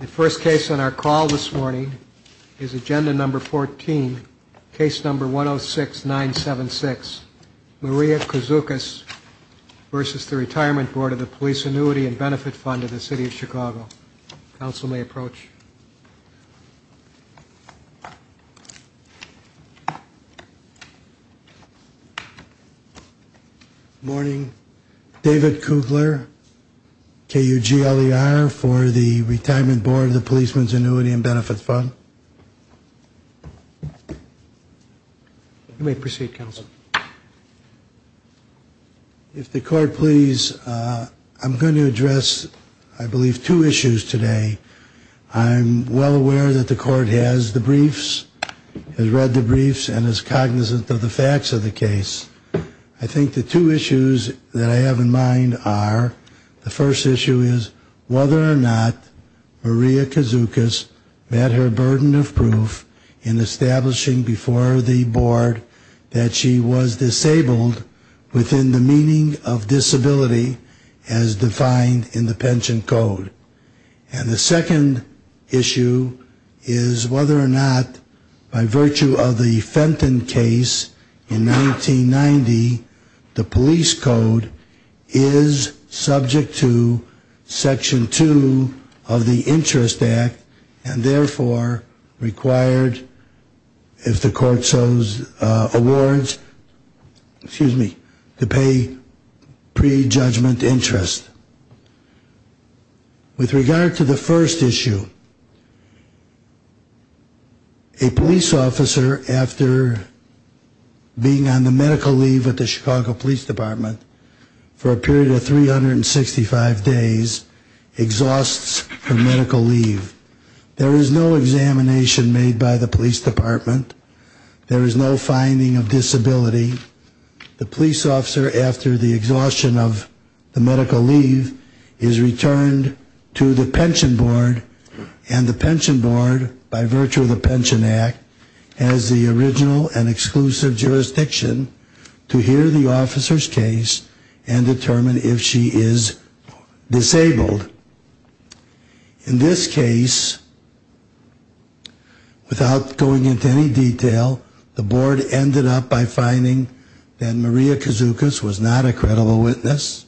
The first case on our call this morning is Agenda Number 14, Case Number 106976, Maria Kouzoukas v. The Retirement Board of the Police Annuity and Benefit Fund of the City of Chicago. Counsel may approach. Morning. David Kugler, KUGLER, for the Retirement Board of the Policemen's Annuity and Benefit Fund. If the court please, I'm going to address, I believe, two issues today. I'm well aware that the court has the briefs, has read the briefs, and is cognizant of the facts of the case. I think the two issues that I have in mind are, the first issue is whether or not Maria Kouzoukas met her burden of proof in establishing before the board that she was a retirement disabled within the meaning of disability as defined in the pension code. And the second issue is whether or not, by virtue of the Fenton case in 1990, the police code is subject to Section 2 of the Interest Act and therefore required, if the court so awards, excuse me, to pay pre-judgment interest. With regard to the first issue, a police officer, after being on the medical leave at the Chicago Police Department for a period of 365 days, exhausts her medical leave. There is no examination made by the police department. There is no finding of disability. The police officer, after the exhaustion of the medical leave, is returned to the pension board and the pension board, by virtue of the Pension Act, has the original and exclusive jurisdiction to hear the officer's case and determine if she is disabled. In this case, without going into any detail, the board ended up by finding that Maria Kouzoukas was not a credible witness,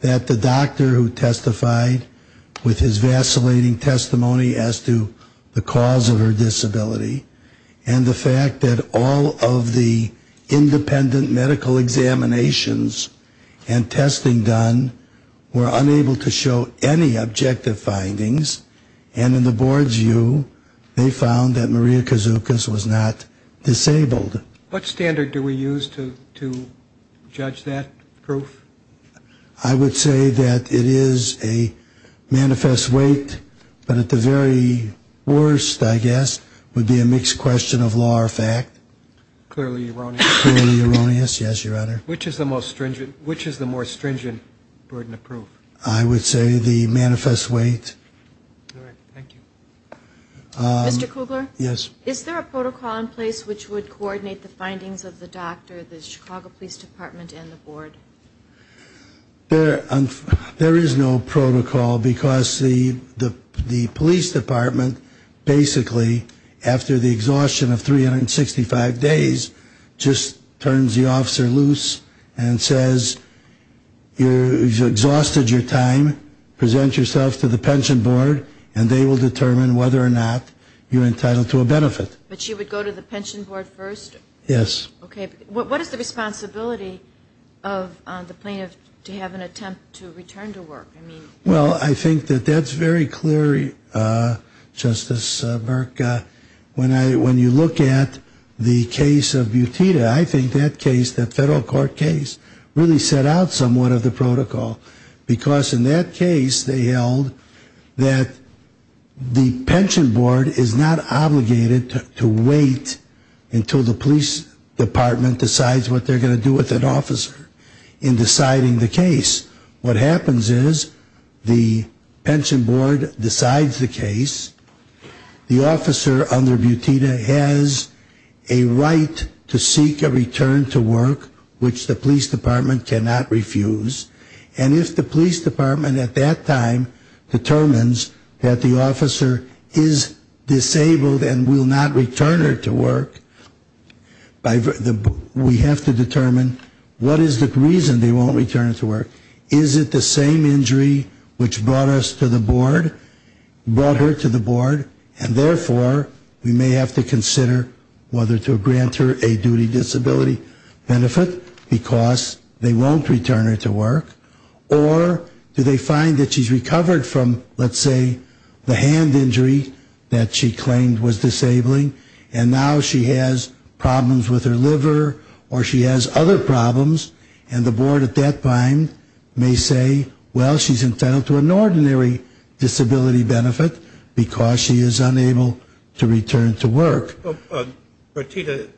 that the doctor who testified with his vacillating testimony as to the cause of her disability, and the fact that all of the independent medical examinations and testing done were unable to show any objective findings, and in the board's view, they found that Maria Kouzoukas was not disabled. What standard do we use to judge that proof? I would say that it is a manifest weight, but at the very worst, I guess, would be a mixed question of law or fact. Clearly erroneous. Which is the more stringent burden of proof? I would say the manifest weight. Mr. Kugler? Yes. Is there a protocol in place which would coordinate the findings of the doctor, the Chicago Police Department, and the board? There is no protocol, because the police department basically, after the exhaustion of 365 days, just turns the officer loose and says, you've exhausted your time, present yourself to the pension board, and they will determine whether or not you're entitled to a benefit. But she would go to the pension board first? Yes. And she would go to the pension board first? Yes. And she would go to the pension board first? Yes. And then she would go to the pension board first? Yes. The officer under Butita has a right to seek a return to work which the police department cannot refuse, and if the police department at that time determines that the person, they won't return her to work, is it the same injury which brought her to the board? And therefore, we may have to consider whether to grant her a duty disability benefit, because they won't return her to work, or do they find that she's recovered from, let's say, the hand injury that she claimed was disabling, and now she has problems with her liver, or she has other problems, and the board at that time may say, well, she's entitled to an ordinary disability benefit, because she is unable to return to work. But Butita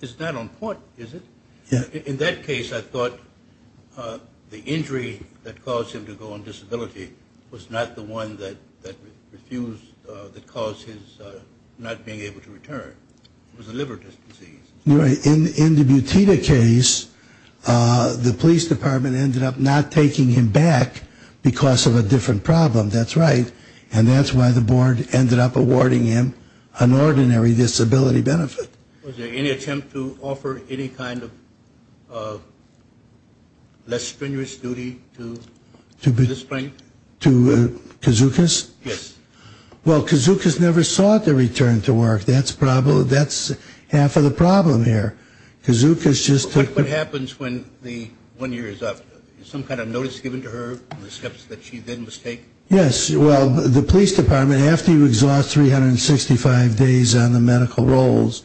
is not on court, is it? In that case, I thought the injury that caused him to go on disability was not the one that refused, that caused his not being able to return. It was a liver disease. In the Butita case, the police department ended up not taking him back because of a different problem, that's right, and that's why the board ended up awarding him an ordinary disability benefit. Was there any attempt to offer any kind of less strenuous duty to the plaintiff? To Kazukas? Yes. Well, Kazukas never sought the return to work. That's half of the problem here. Kazukas just took What happens when the one year is up? Is some kind of notice given to her on the steps that she then must take? Yes. Well, the police department, after you exhaust 365 days on the medical rolls,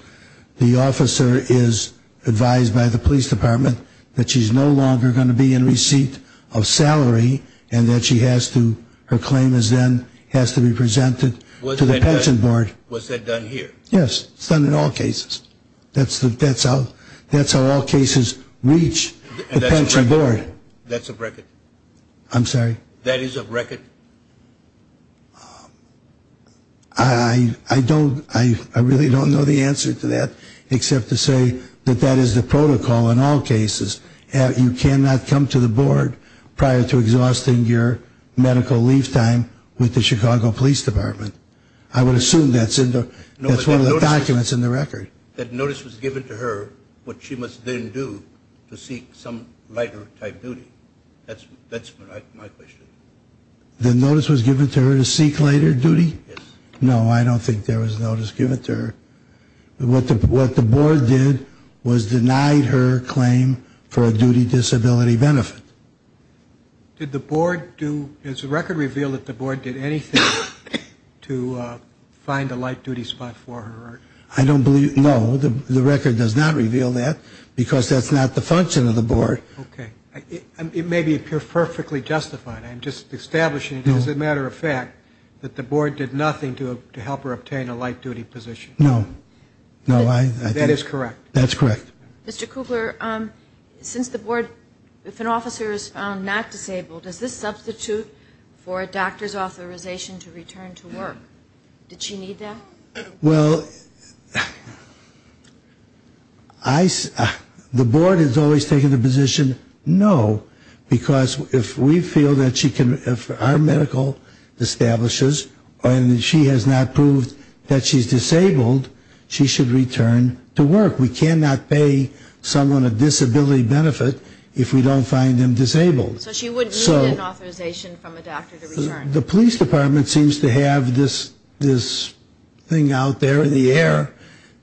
the officer is advised by the police department that she's no longer going to be in receipt of salary, and that she has to, her claim is then, has to be presented to the pension board. Was that done here? Yes, it's done in all cases. That's how all cases reach the pension board. That's a record? I'm sorry? That is a record? I really don't know the answer to that except to say that that is the protocol in all cases. You cannot come to the board prior to exhausting your medical leave time with the Chicago Police Department. I would assume that's one of the documents in the record. That notice was given to her, what she must then do to seek some lighter type duty. That's my question. The notice was given to her to seek lighter duty? Yes. No, I don't think there was a notice given to her. What the board did was denied her claim for a duty disability benefit. Did the board do, has the record revealed that the board did anything to find a light duty spot for her? I don't believe, no, the record does not reveal that because that's not the function of the board. It may be perfectly justified. I'm just establishing as a matter of fact that the board did nothing to help her obtain a light duty position. No. That is correct? That's correct. Mr. Kugler, if an officer is found not disabled, does this substitute for a doctor's authorization to return to work? Did she need that? No, because if we feel that she can, if our medical establishes and she has not proved that she's disabled, she should return to work. We cannot pay someone a disability benefit if we don't find them disabled. So she would need an authorization from a doctor to return? The police department seems to have this thing out there in the air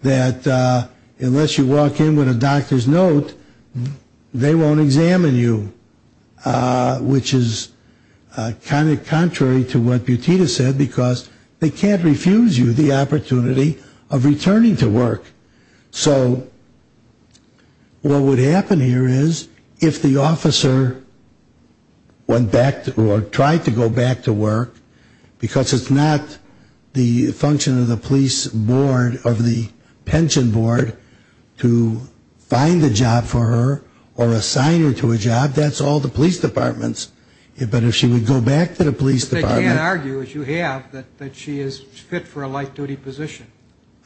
that unless you walk in with a doctor's note, they won't let you in. They won't examine you, which is kind of contrary to what Butita said, because they can't refuse you the opportunity of returning to work. So what would happen here is if the officer went back or tried to go back to work, because it's not the function of the police board, of the pension board, to find a job for her or assign her to a job, that's all the police departments. But if she would go back to the police department... But they can't argue, as you have, that she is fit for a light duty position.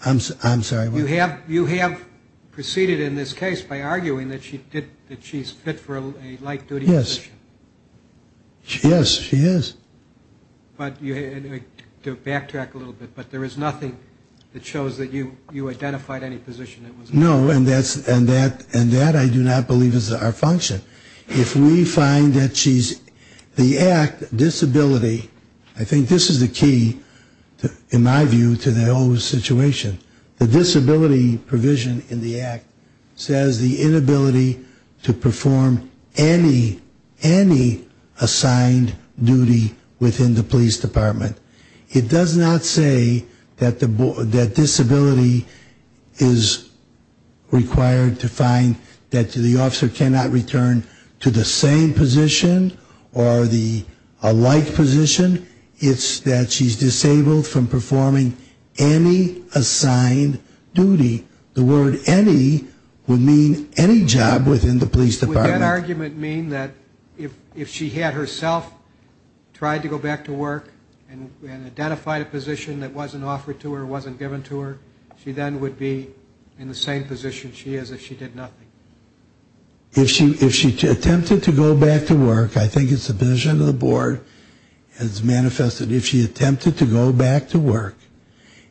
I'm sorry, what? You have proceeded in this case by arguing that she's fit for a light duty position. Yes, she is. But to backtrack a little bit, but there is nothing that shows that you identified any position that was... No, and that I do not believe is our function. If we find that she's, the act, disability, I think this is the key, in my view, to the whole situation. The disability provision in the act says the inability to perform any, any kind of activity, any assigned duty within the police department. It does not say that disability is required to find that the officer cannot return to the same position or the light position. It's that she's disabled from performing any assigned duty. The word any would mean any job within the police department. Does that argument mean that if she had herself tried to go back to work and identified a position that wasn't offered to her, wasn't given to her, she then would be in the same position she is if she did nothing? If she attempted to go back to work, I think it's the vision of the board, it's manifested if she attempted to go back to work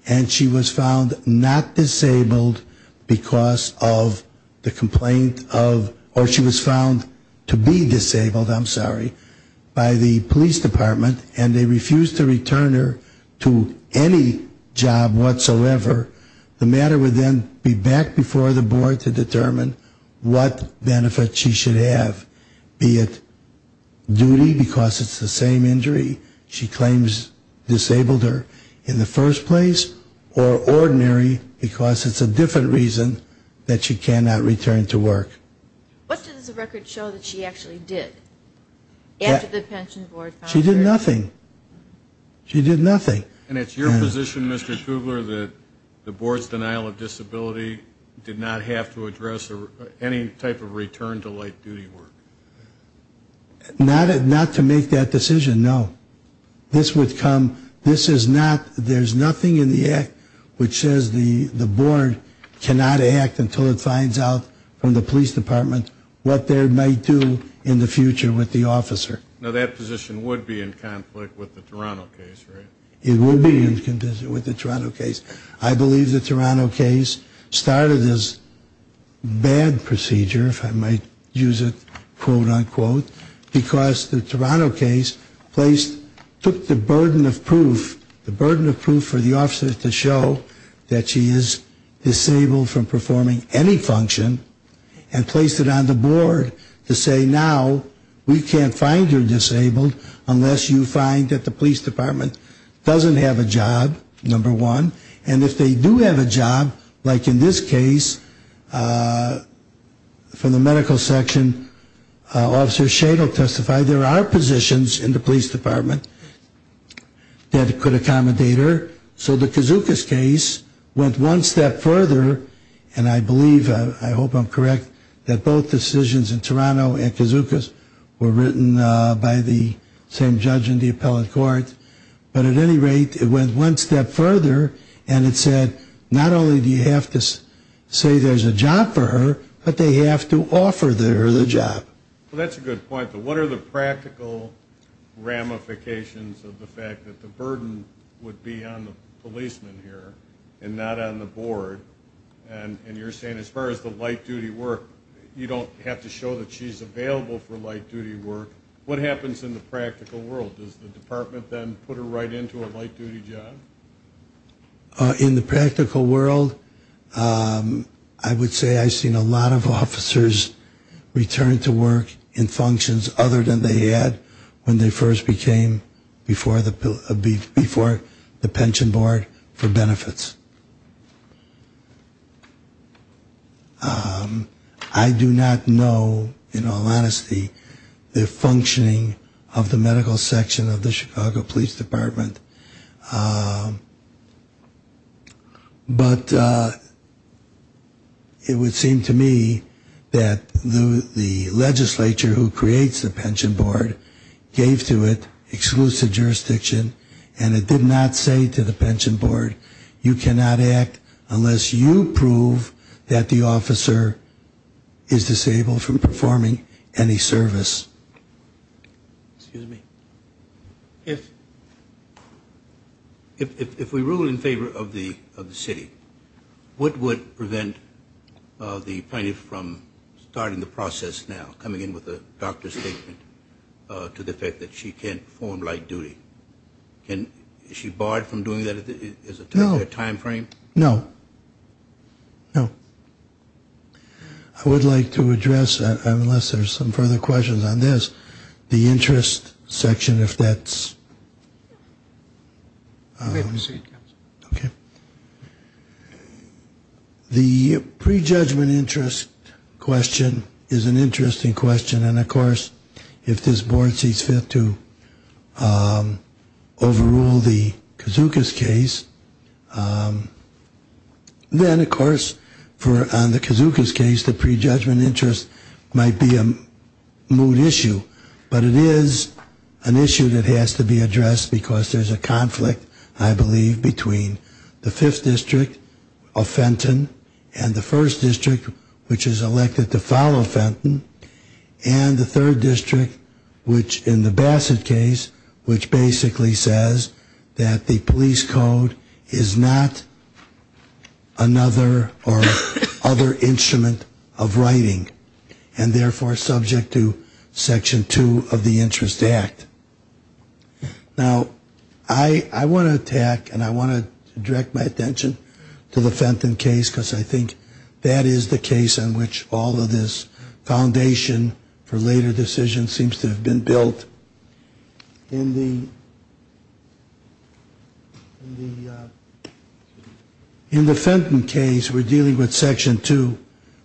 and she was found not disabled because of the complaint of, or she was found to be disabled, I'm sorry, by the police department and they refused to return her to any job whatsoever, the matter would then be back before the board to determine what benefit she should have, be it duty because it's the same injury she claims disabled her in the first place, or ordinary because it's a different reason that she cannot return to work. What does the record show that she actually did? She did nothing. She did nothing. And it's your position, Mr. Kugler, that the board's denial of disability did not have to address any type of return to light duty work? Not to make that decision, no. This would come, this is not, there's nothing in the act which says the board cannot act until it finds out from the police department what they might do in the future with the officer. Now that position would be in conflict with the Toronto case, right? It would be in conflict with the Toronto case. I believe the Toronto case started as bad procedure, if I might use it quote unquote, because the Toronto case placed, took the burden of proof, the burden of proof for the officer to show that she is disabled from performing any function and placed it on the board to say now we can't find her disabled unless you find that the police department doesn't have a job, number one. And if they do have a job, like in this case, from the medical section, Officer Shane will testify, there are positions in the police department that could accommodate her. So the Kazookas case went one step further, and I believe, I hope I'm correct, that both decisions in Toronto and Kazookas were written by the same judge in the appellate court. But at any rate, it went one step further and it said not only do you have to say there's a job for her, but they have to offer her the job. Well, that's a good point, but what are the practical ramifications of the fact that the burden would be on the policeman here and not on the board, and you're saying as far as the light duty work, you don't have to show that she's available for light duty work. What happens in the practical world? Does the department then put her right into a light duty job? In the practical world, I would say I've seen a lot of officers return to work in functions other than they had when they first became before the pension board for benefits. I do not know, in all honesty, the functioning of the medical section of the Chicago Police Department, but it would seem to me that the legislature who creates the pension board gave to it exclusive jurisdiction and it did not say to the pension board, you cannot act unless you prove that the officer is disabled from performing any service. If we rule in favor of the city, what would prevent the plaintiff from starting the process now, coming in with a doctor's statement to the effect that she can't perform light duty? Is she barred from doing that as a timeframe? No. No. I would like to address, unless there's some further questions on this, the interest section, if that's... The prejudgment interest question is an interesting question, and of course, if this board sees fit to overrule the Kazuka's case, then of course, on the Kazuka's case, the prejudgment interest might be a moot issue. But it is an issue that has to be addressed because there's a conflict, I believe, between the 5th District of Fenton and the 1st District, which is elected to follow Fenton, and the 3rd District, which in the Bassett case, which basically says that the police code is not another or other instrument of writing, and therefore, subject to Section 2 of the Interest Act. Now, I want to attack, and I want to direct my attention to the Fenton case, because I think that is the case on which all of this foundation for later decisions seems to have been built. In the Fenton case, we're dealing with Section 2,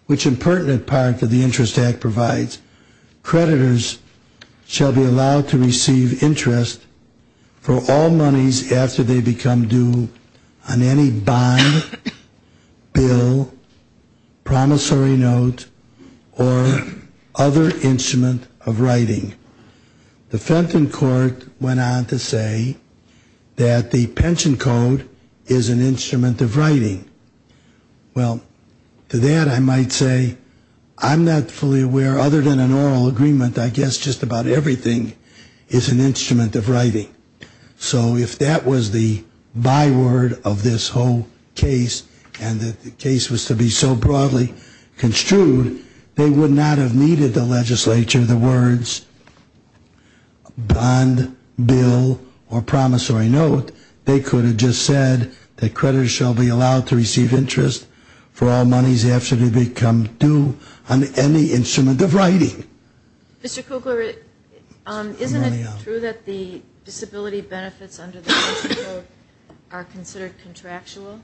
which in pertinent part to the Interest Act provides creditors shall be allowed to receive interest for all monies after they become due on any bond, bill, promissory note, or other instrument of writing. The Fenton court went on to say that the pension code is an instrument of writing. Well, to that I might say, I'm not fully aware, other than an oral agreement, I guess just about everything is an instrument of writing. So if that was the byword of this whole case, and that the case was to be so broadly construed, they would not have needed the legislature the words bond, bill, or promissory note. They could have just said that creditors shall be allowed to receive interest for all monies after they become due on any instrument of writing. Mr. Kugler, isn't it true that the disability benefits under the pension code are considered contractual?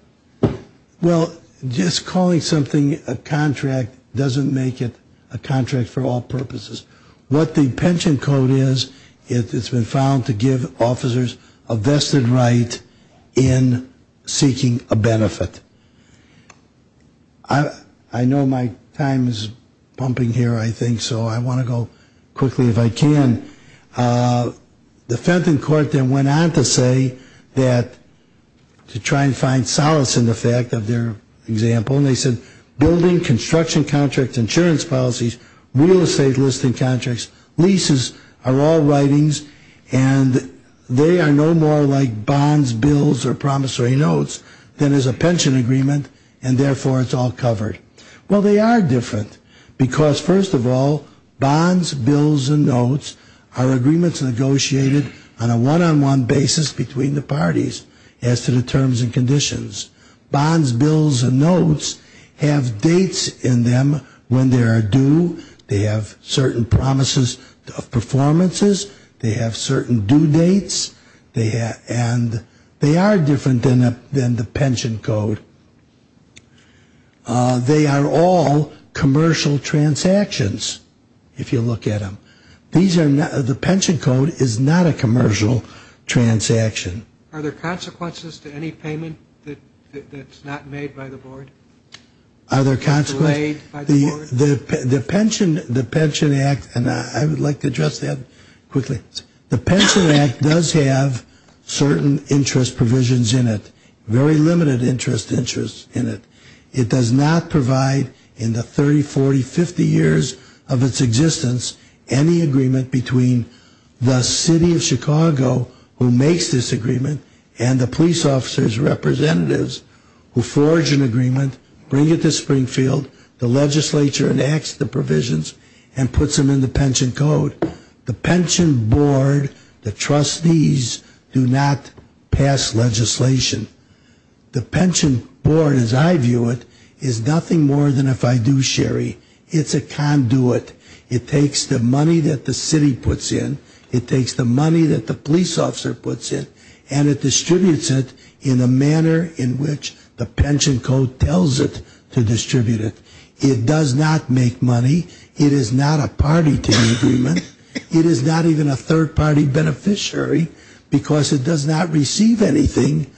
Well, just calling something a contract doesn't make it a contract for all purposes. What the pension code is, it's been found to give officers a vested right in seeking a benefit. I know my time is pumping here, I think, so I want to go quickly if I can. The Fenton court then went on to say that, to try and find solace in the fact of their example, they said building, construction contracts, insurance policies, real estate listing contracts, leases are all writings, and they are no more like bonds, bills, or promissory notes than is a pension agreement, and therefore it's all covered. Well, they are different, because first of all, bonds, bills, and notes are agreements negotiated on a one-on-one basis between the parties as to the terms and conditions. Bonds, bills, and notes have dates in them when they are due, they have certain promises of performances, they have certain due dates, and they are different than the pension code. They are all commercial transactions, if you look at them. The pension code is not a commercial transaction. Are there consequences to any payment that's not made by the board? Delayed by the board? The pension act, and I would like to address that quickly. The pension act does have certain interest provisions in it, very limited interest in it. It does not provide in the 30, 40, 50 years of its existence, any agreement between the city of Chicago who makes this agreement and the police officer's representatives who forge an agreement, bring it to Springfield, the legislature enacts the provisions, and puts them in the pension code. The pension board, the trustees, do not pass legislation. The pension board, as I view it, is nothing more than if I do, Sherry. It's a conduit, it takes the money that the city puts in, it takes the money that the police officer puts in, and it distributes it in a manner in which the pension code tells it to distribute it. It does not make money, it is not a party to the agreement, it is not even a third party beneficiary because it does not receive anything,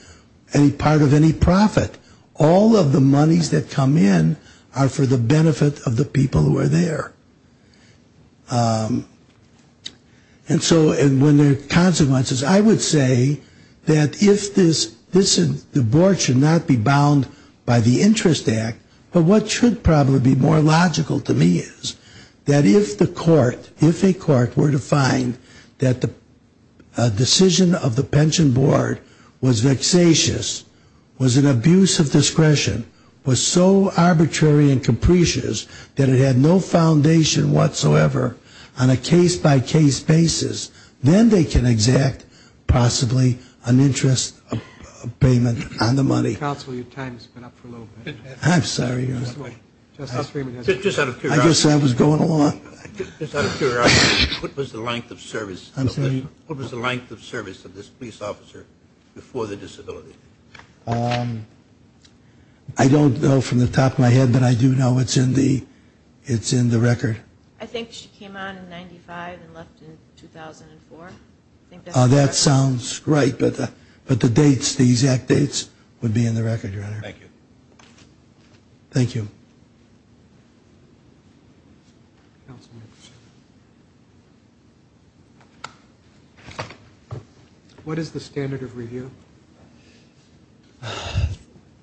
any part of any profit. All of the monies that come in are for the benefit of the people who are there. And so when there are consequences, I would say that if this, the board should not be bound by the interest act, but what should probably be more logical to me is that if the court, if a court were to find that the decision of the pension board was vexatious, was an abuse of discretion, was so arbitrary and capricious that it had no foundation whatsoever on a case-by-case basis, then they can exact possibly an interest payment on the money. Counsel, your time has been up for a little bit. I guess I was going along. What was the length of service of this police officer before the disability? I don't know from the top of my head, but I do know it's in the record. I think she came on in 95 and left in 2004. That sounds right, but the dates, the exact dates would be in the record, Your Honor. Thank you. What is the standard of review?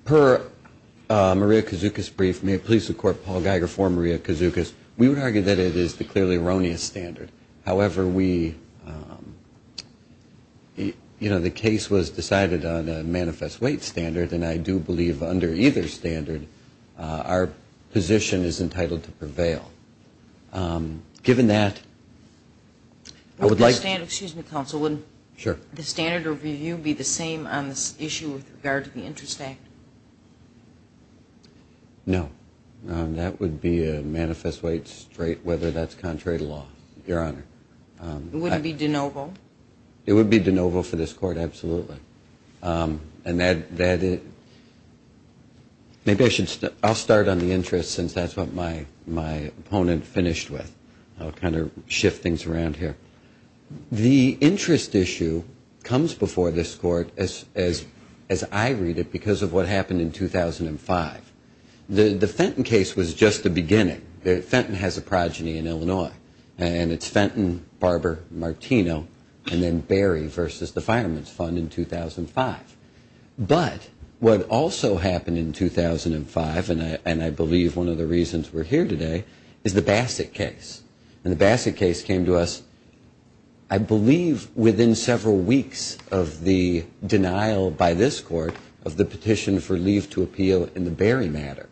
Per Maria Kazuka's brief, may it please the court, Paul Geiger for Maria Kazuka's, we would argue that it is the clearly erroneous standard. However, the case was decided on a manifest weight standard, and I do believe under either standard our position is entitled to prevail. Given that, I would like... Would the standard of review be the same on this issue with regard to the interest act? No. That would be a manifest weight whether that's contrary to law, Your Honor. It wouldn't be de novo? It would be de novo for this court, absolutely. I'll start on the interest since that's what my opponent finished with. I'll kind of shift things around here. The interest issue comes before this court as I read it because of what happened in 2005. The Fenton case was just the beginning. Fenton has a progeny in Illinois, and it's Fenton, Barber, Martino, and then Barry versus the Fireman's Fund in 2005. But what also happened in 2005, and I believe one of the reasons we're here today, is the Bassett case. And the Bassett case came to us, I believe, within several weeks of the denial by this court of the petition for leave to appeal in the Barry matter.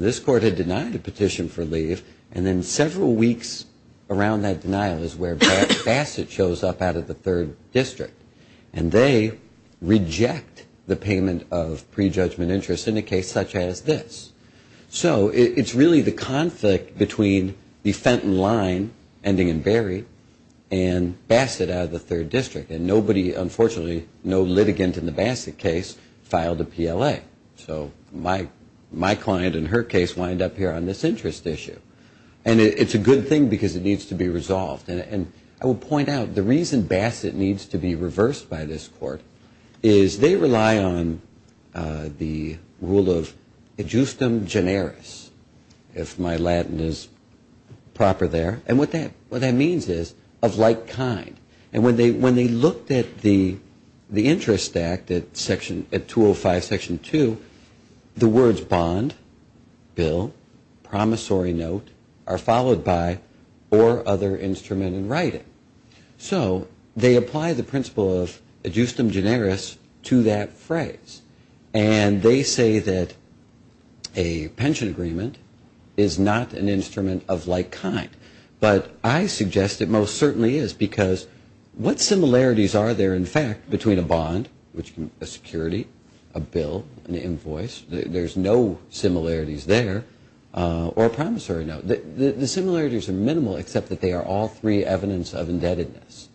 This court had denied a petition for leave, and then several weeks around that denial is where Bassett shows up out of the third district, and they reject the payment of prejudgment interest in a case such as this. So it's really the conflict between the Fenton line, ending in Barry, and Bassett out of the third district. And nobody, unfortunately, no litigant in the Bassett case filed a PLA. So my client and her case wind up here on this interest issue. And it's a good thing, because it needs to be resolved. And I will point out, the reason Bassett needs to be reversed by this court, is they rely on the rule of adjustum generis, if my Latin is proper there. And what that means is of like kind. And when they looked at the interest act at 205 section 2, the words bond, bill, promissory note, are followed by or other instrument in writing. So they apply the principle of adjustum generis to that phrase. And they say that a pension agreement is not an instrument of like kind. But I suggest it most certainly is, because what similarities are there, in fact, between a bond, a security, a bill, an invoice? There's no similarities there. Or a promissory note. The similarities are minimal, except that they are all three evidence of indebtedness.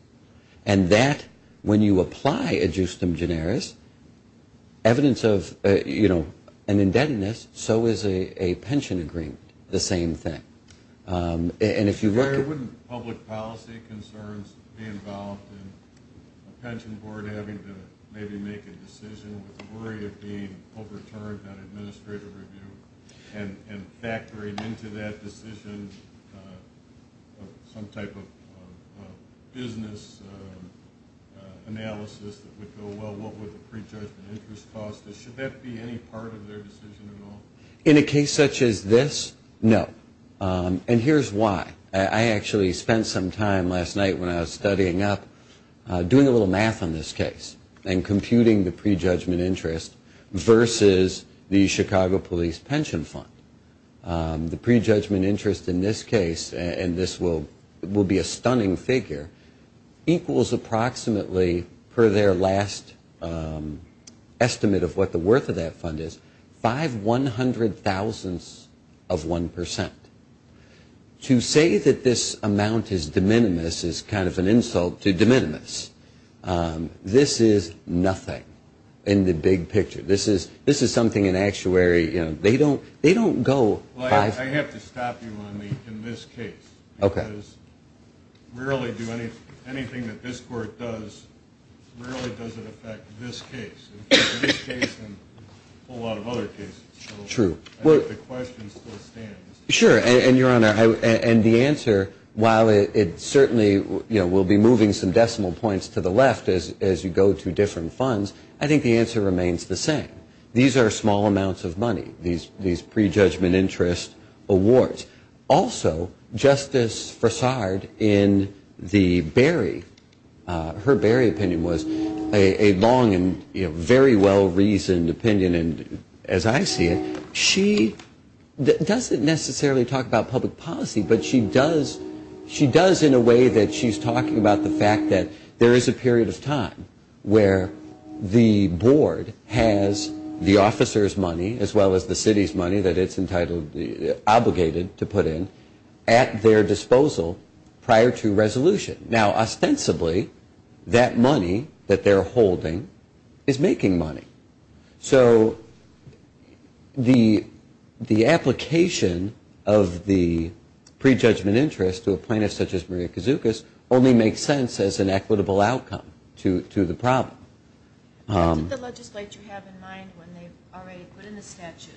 And that, when you apply adjustum generis, evidence of, you know, an indebtedness, so is a pension agreement, the same thing. And if you look at... be involved in a pension board having to maybe make a decision with the worry of being overturned on administrative review and factoring into that decision some type of business analysis that would go well, what would the prejudgment interest cost? Should that be any part of their decision at all? In a case such as this, no. And here's why. I actually spent some time last night when I was studying up doing a little math on this case and computing the prejudgment interest versus the Chicago Police Pension Fund. The prejudgment interest in this case, and this will be a stunning figure, equals approximately, per their last estimate of what the worth of that fund is, five one hundred thousandths of one percent. To say that this amount is de minimis is kind of an insult to de minimis. This is nothing in the big picture. This is something an actuary, you know, they don't go five... Well, I have to stop you on the in this case. Okay. Because really anything that this court does rarely does it affect this case. In this case and a whole lot of other cases. True. I think the question still stands. Sure. And, Your Honor, and the answer, while it certainly, you know, will be moving some decimal points to the left as you go to different funds, I think the answer remains the same. These are small amounts of money, these prejudgment interest awards. Also, Justice Fassard in the Berry, her Berry opinion was a long and, you know, very well reasoned opinion as I see it. She doesn't necessarily talk about public policy, but she does in a way that she's talking about the fact that there is a period of time where the board has the officer's money as well as the city's money that it's entitled, obligated to put in at their disposal prior to resolution. Now, ostensibly, that money that they're holding is making money. So the application of the prejudgment interest to a plaintiff such as Maria Kazoukas only makes sense as an equitable outcome to the problem. What did the legislature have in mind when they already put in the statute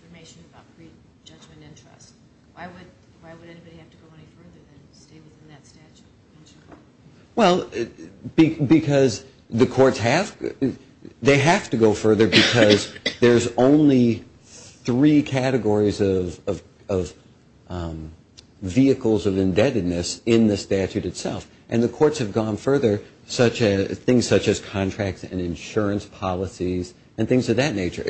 information about prejudgment interest? Why would anybody have to go any further than stay within that statute? Well, because the courts have. They have to go further because there's only three categories of vehicles of indebtedness in the statute itself, and the courts have gone further, things such as contracts and insurance policies and things of that nature.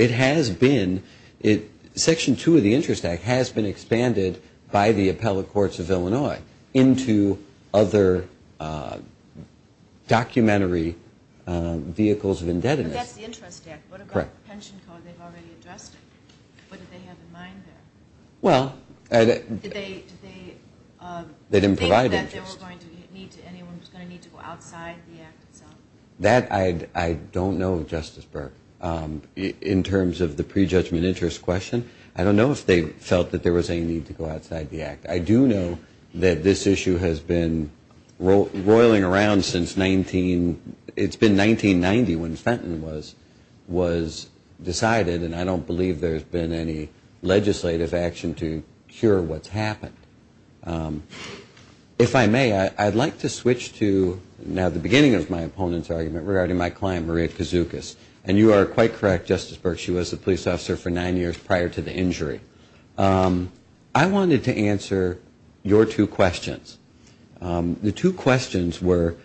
Section 2 of the Interest Act has been expanded by the appellate courts of Illinois into other documentary vehicles of indebtedness. But that's the interest act. What about the pension code? They've already addressed it. What did they have in mind there? Well, they didn't provide interest. Did they think that anyone was going to need to go outside the act itself? That I don't know, Justice Burke. In terms of the prejudgment interest question, I don't know if they felt that there was any need to go outside the act. I do know that this issue has been roiling around since 1990 when Fenton was decided, and I don't believe there's been any legislative action to cure what's happened. If I may, I'd like to switch to now the beginning of my opponent's argument regarding my client, Maria Kazoukas. And you are quite correct, Justice Burke, she was the police officer for nine years prior to the injury. I wanted to answer your two questions. The two questions were,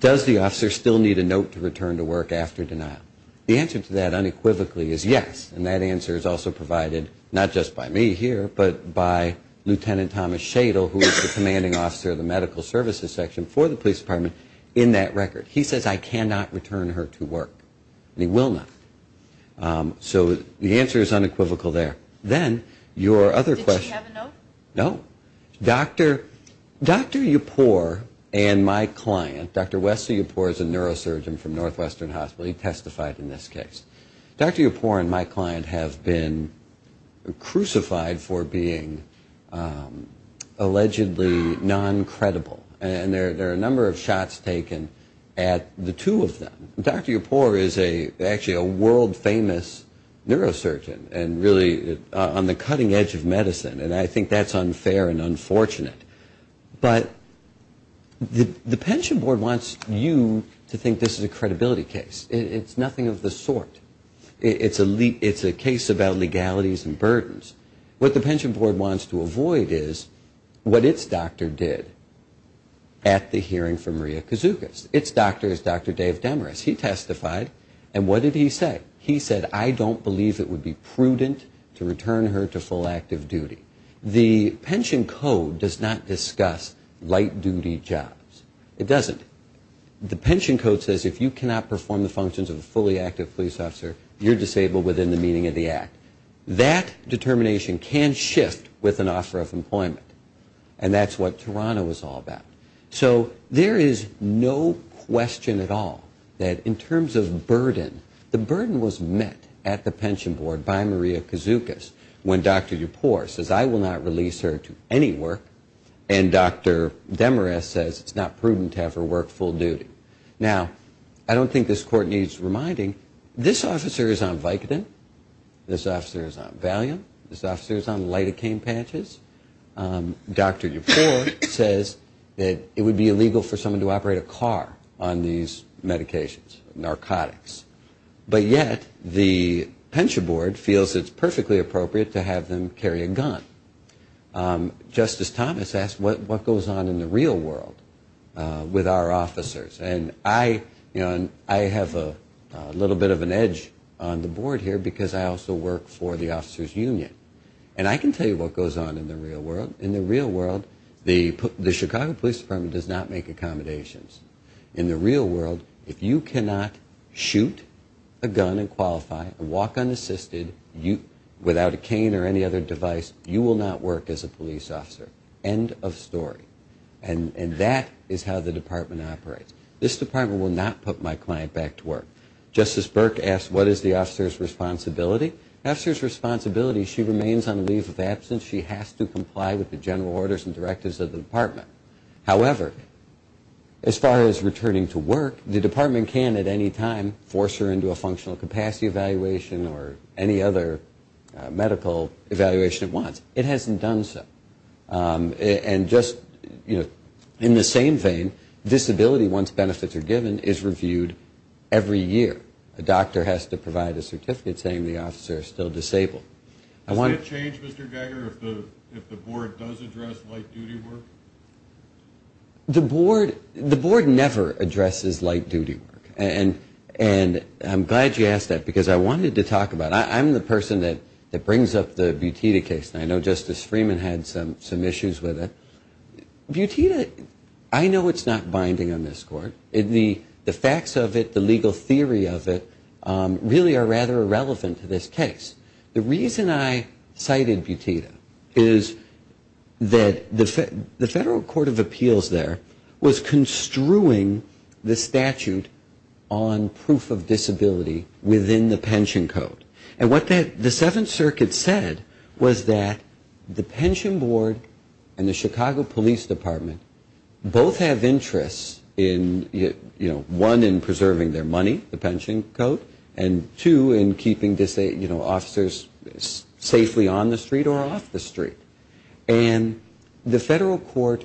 does the officer still need a note to return to work after denial? The answer to that unequivocally is yes, and that answer is also provided not just by me here, but by Lieutenant Thomas Shadle, who is the commanding officer of the medical services section for the police department in that record. He says I cannot return her to work, and he will not. So the answer is unequivocal there. Then your other question. Did she have a note? No. Dr. Yipor and my client, Dr. Wesley Yipor is a neurosurgeon from Northwestern Hospital. He testified in this case. Dr. Yipor and my client have been crucified for being allegedly non-credible, and there are a number of shots taken at the two of them. Dr. Yipor is actually a world-famous neurosurgeon and really on the cutting edge of medicine, and I think that's unfair and unfortunate. But the pension board wants you to think this is a credibility case. It's nothing of the sort. It's a case about legalities and burdens. What the pension board wants to avoid is what its doctor did at the hearing for Maria Kouzoukis. Its doctor is Dr. Dave Demarest. He testified, and what did he say? He said I don't believe it would be prudent to return her to full active duty. The pension code does not discuss light-duty jobs. It doesn't. The pension code says if you cannot perform the functions of a fully active police officer, you're disabled within the meaning of the act. That determination can shift with an offer of employment, and that's what Toronto is all about. So there is no question at all that in terms of burden, the burden was met at the pension board by Maria Kouzoukis when Dr. Yipor says I will not release her to any work, and Dr. Demarest says it's not prudent to have her work full duty. Now, I don't think this court needs reminding. This officer is on Vicodin. This officer is on Valium. This officer is on lidocaine patches. Dr. Yipor says that it would be illegal for someone to operate a car on these medications, narcotics, but yet the pension board feels it's perfectly appropriate to have them carry a gun. Justice Thomas asked what goes on in the real world with our officers, and I have a little bit of an edge on the board here because I also work for the officers' union, and I can tell you what goes on in the real world. In the real world, the Chicago Police Department does not make accommodations. In the real world, if you cannot shoot a gun and qualify and walk unassisted without a cane or any other device, you will not work as a police officer. End of story. And that is how the department operates. This department will not put my client back to work. Justice Burke asked what is the officer's responsibility. The officer's responsibility, she remains on leave of absence. She has to comply with the general orders and directives of the department. However, as far as returning to work, the department can at any time force her into a functional capacity evaluation or any other medical evaluation at once. It hasn't done so. And just, you know, in the same vein, disability, once benefits are given, is reviewed every year. A doctor has to provide a certificate saying the officer is still disabled. Would it change, Mr. Geiger, if the board does address light-duty work? The board never addresses light-duty work, and I'm glad you asked that because I wanted to talk about it. I'm the person that brings up the Butita case, and I know Justice Freeman had some issues with it. Butita, I know it's not binding on this court. The facts of it, the legal theory of it, really are rather irrelevant to this case. The reason I cited Butita is that the Federal Court of Appeals there was construing the statute on proof of disability within the pension code. And what the Seventh Circuit said was that the pension board and the Chicago Police Department both have interests in, you know, one, in preserving their money, the pension code, and two, in keeping, you know, officers safely on the street or off the street. And the federal court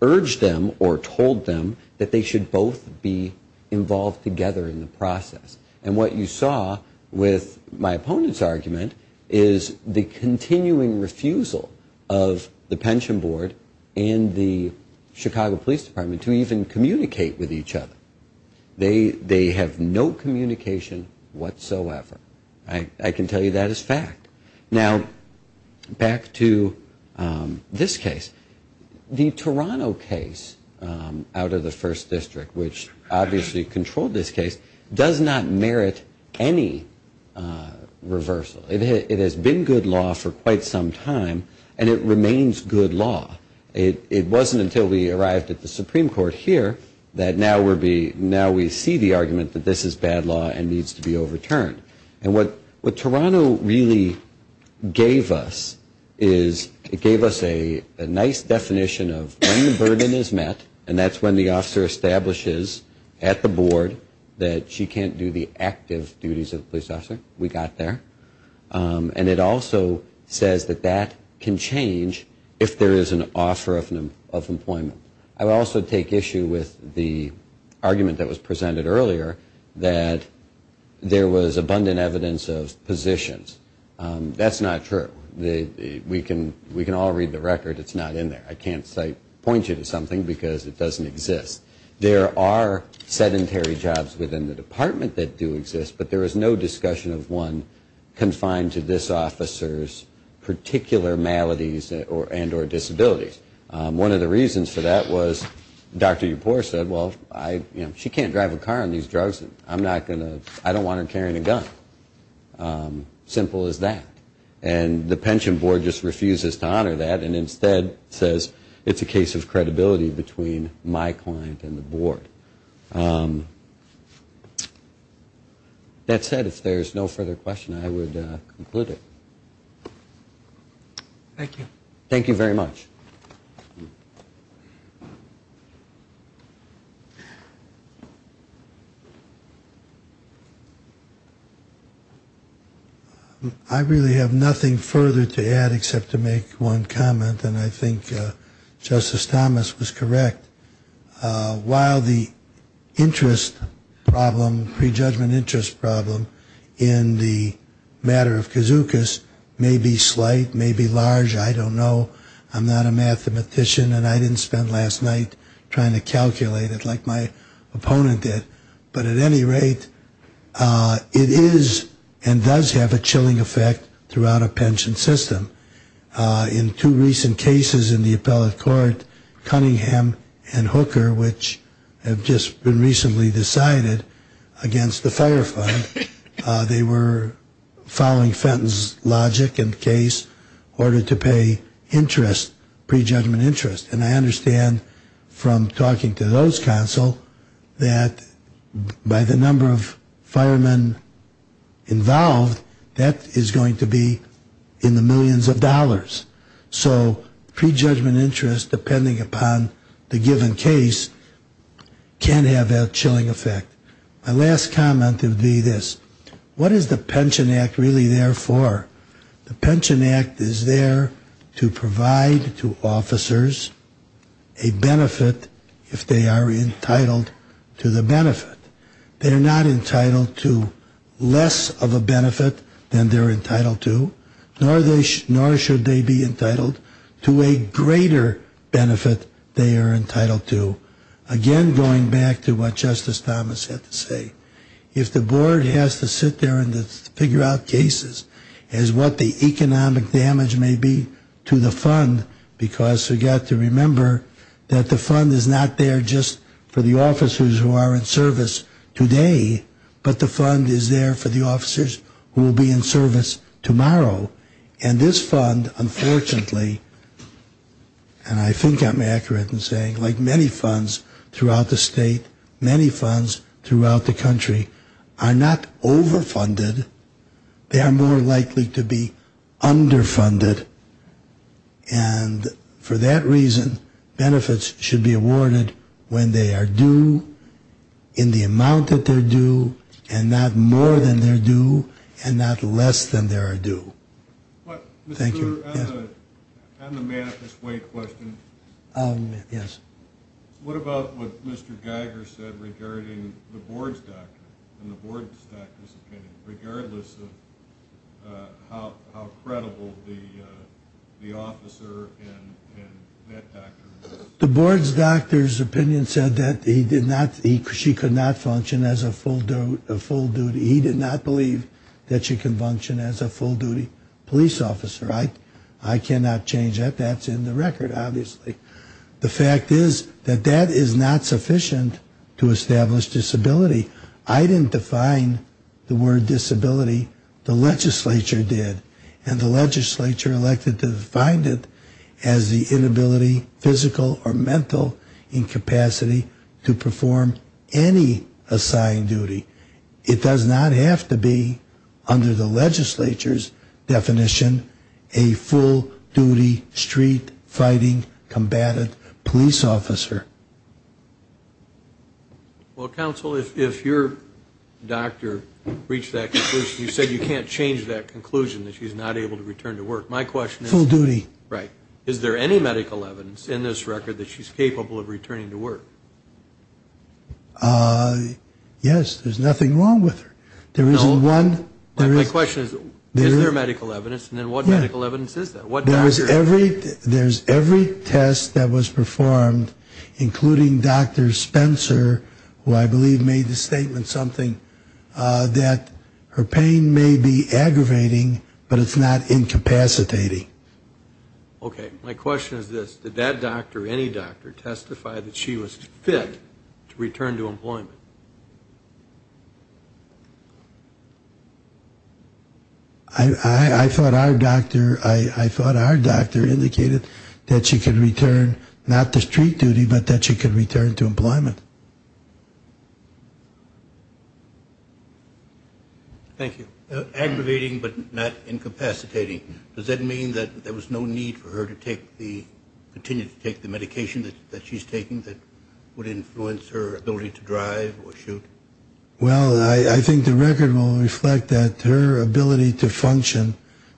urged them or told them that they should both be involved together in the process. And what you saw with my opponent's argument is the continuing refusal of the pension board and the Chicago Police Department to even communicate with each other. They have no communication whatsoever. I can tell you that is fact. Now, back to this case. The Toronto case out of the First District, which obviously controlled this case, does not merit any reversal. It has been good law for quite some time, and it remains good law. It wasn't until we arrived at the Supreme Court here that now we see the argument that this is bad law and needs to be overturned. And what Toronto really gave us is it gave us a nice definition of when the burden is met, and that's when the officer establishes at the board that she can't do the active duties of a police officer. We got there. And it also says that that can change if there is an offer of employment. I would also take issue with the argument that was presented earlier that there was abundant evidence of positions. That's not true. We can all read the record. It's not in there. I can't point you to something because it doesn't exist. There are sedentary jobs within the department that do exist, but there is no discussion of one confined to this officer's particular maladies and or disabilities. One of the reasons for that was Dr. Ypore said, well, she can't drive a car on these drugs. I don't want her carrying a gun. Simple as that. And the pension board just refuses to honor that and instead says it's a case of credibility between my client and the board. That said, if there's no further question, I would conclude it. Thank you. Thank you very much. I really have nothing further to add except to make one comment, and I think Justice Thomas was correct. While the interest problem, prejudgment interest problem in the matter of kazookas may be slight, may be large, I don't know. and I didn't spend last night trying to calculate it like my opponent did. But at any rate, it is and does have a chilling effect throughout a pension system. In two recent cases in the appellate court, Cunningham and Hooker, which have just been recently decided against the fire fund, they were following Fenton's logic and case in order to pay interest, prejudgment interest. And I understand from talking to those counsel that by the number of firemen involved, that is going to be in the millions of dollars. So prejudgment interest, depending upon the given case, can have that chilling effect. My last comment would be this. What is the Pension Act really there for? The Pension Act is there to provide to officers a benefit if they are entitled to the benefit. They are not entitled to less of a benefit than they're entitled to, nor should they be entitled to a greater benefit they are entitled to. Again, going back to what Justice Thomas had to say, if the board has to sit there and figure out cases as what the economic damage may be to the fund, because you've got to remember that the fund is not there just for the officers who are in service today, but the fund is there for the officers who will be in service tomorrow. And this fund, unfortunately, and I think I'm accurate in saying, like many funds throughout the state, many funds throughout the country, are not overfunded. They are more likely to be underfunded. And for that reason, benefits should be awarded when they are due, in the amount that they're due, and not more than they're due, and not less than they're due. Thank you. On the manifest way question, what about what Mr. Geiger said regarding the board's doctor, and the board's doctor's opinion, regardless of how credible the officer and that doctor was? The board's doctor's opinion said that she could not function as a full duty. He did not believe that she could function as a full duty police officer. I cannot change that. That's in the record, obviously. The fact is that that is not sufficient to establish disability. I didn't define the word disability. The legislature did. And the legislature elected to define it as the inability, physical or mental incapacity, to perform any assigned duty. It does not have to be, under the legislature's definition, a full duty, street fighting, combative police officer. Well, counsel, if your doctor reached that conclusion, you said you can't change that conclusion, that she's not able to return to work. My question is. Full duty. Right. Is there any medical evidence in this record that she's capable of returning to work? Yes. There's nothing wrong with her. There isn't one. My question is, is there medical evidence? And then what medical evidence is there? There's every test that was performed, including Dr. Spencer, who I believe made the statement something, that her pain may be aggravating, but it's not incapacitating. Okay. My question is this, did that doctor, any doctor, testify that she was fit to return to employment? I thought our doctor indicated that she could return, not to street duty, but that she could return to employment. Thank you. Aggravating, but not incapacitating. Does that mean that there was no need for her to continue to take the medication that she's taking that would influence her ability to drive or shoot? Well, I think the record will reflect that her ability to function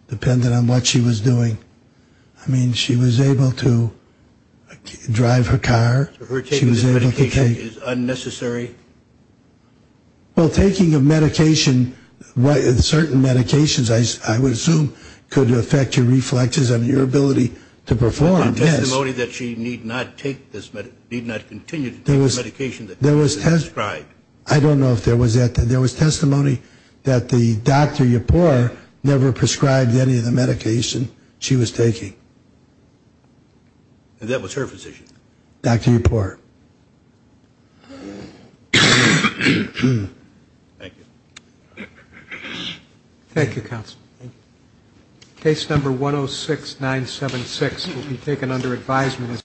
depended on what she was doing. I mean, she was able to drive her car. So her taking the medication is unnecessary? Well, taking a medication, certain medications, I would assume, could affect your reflexes on your ability to perform. There's no testimony that she need not continue to take the medication that she was prescribed. I don't know if there was that. There was testimony that the Dr. Yapur never prescribed any of the medication she was taking. And that was her physician? Dr. Yapur. Thank you. Thank you, Counsel. Case number 106976 will be taken under advisement.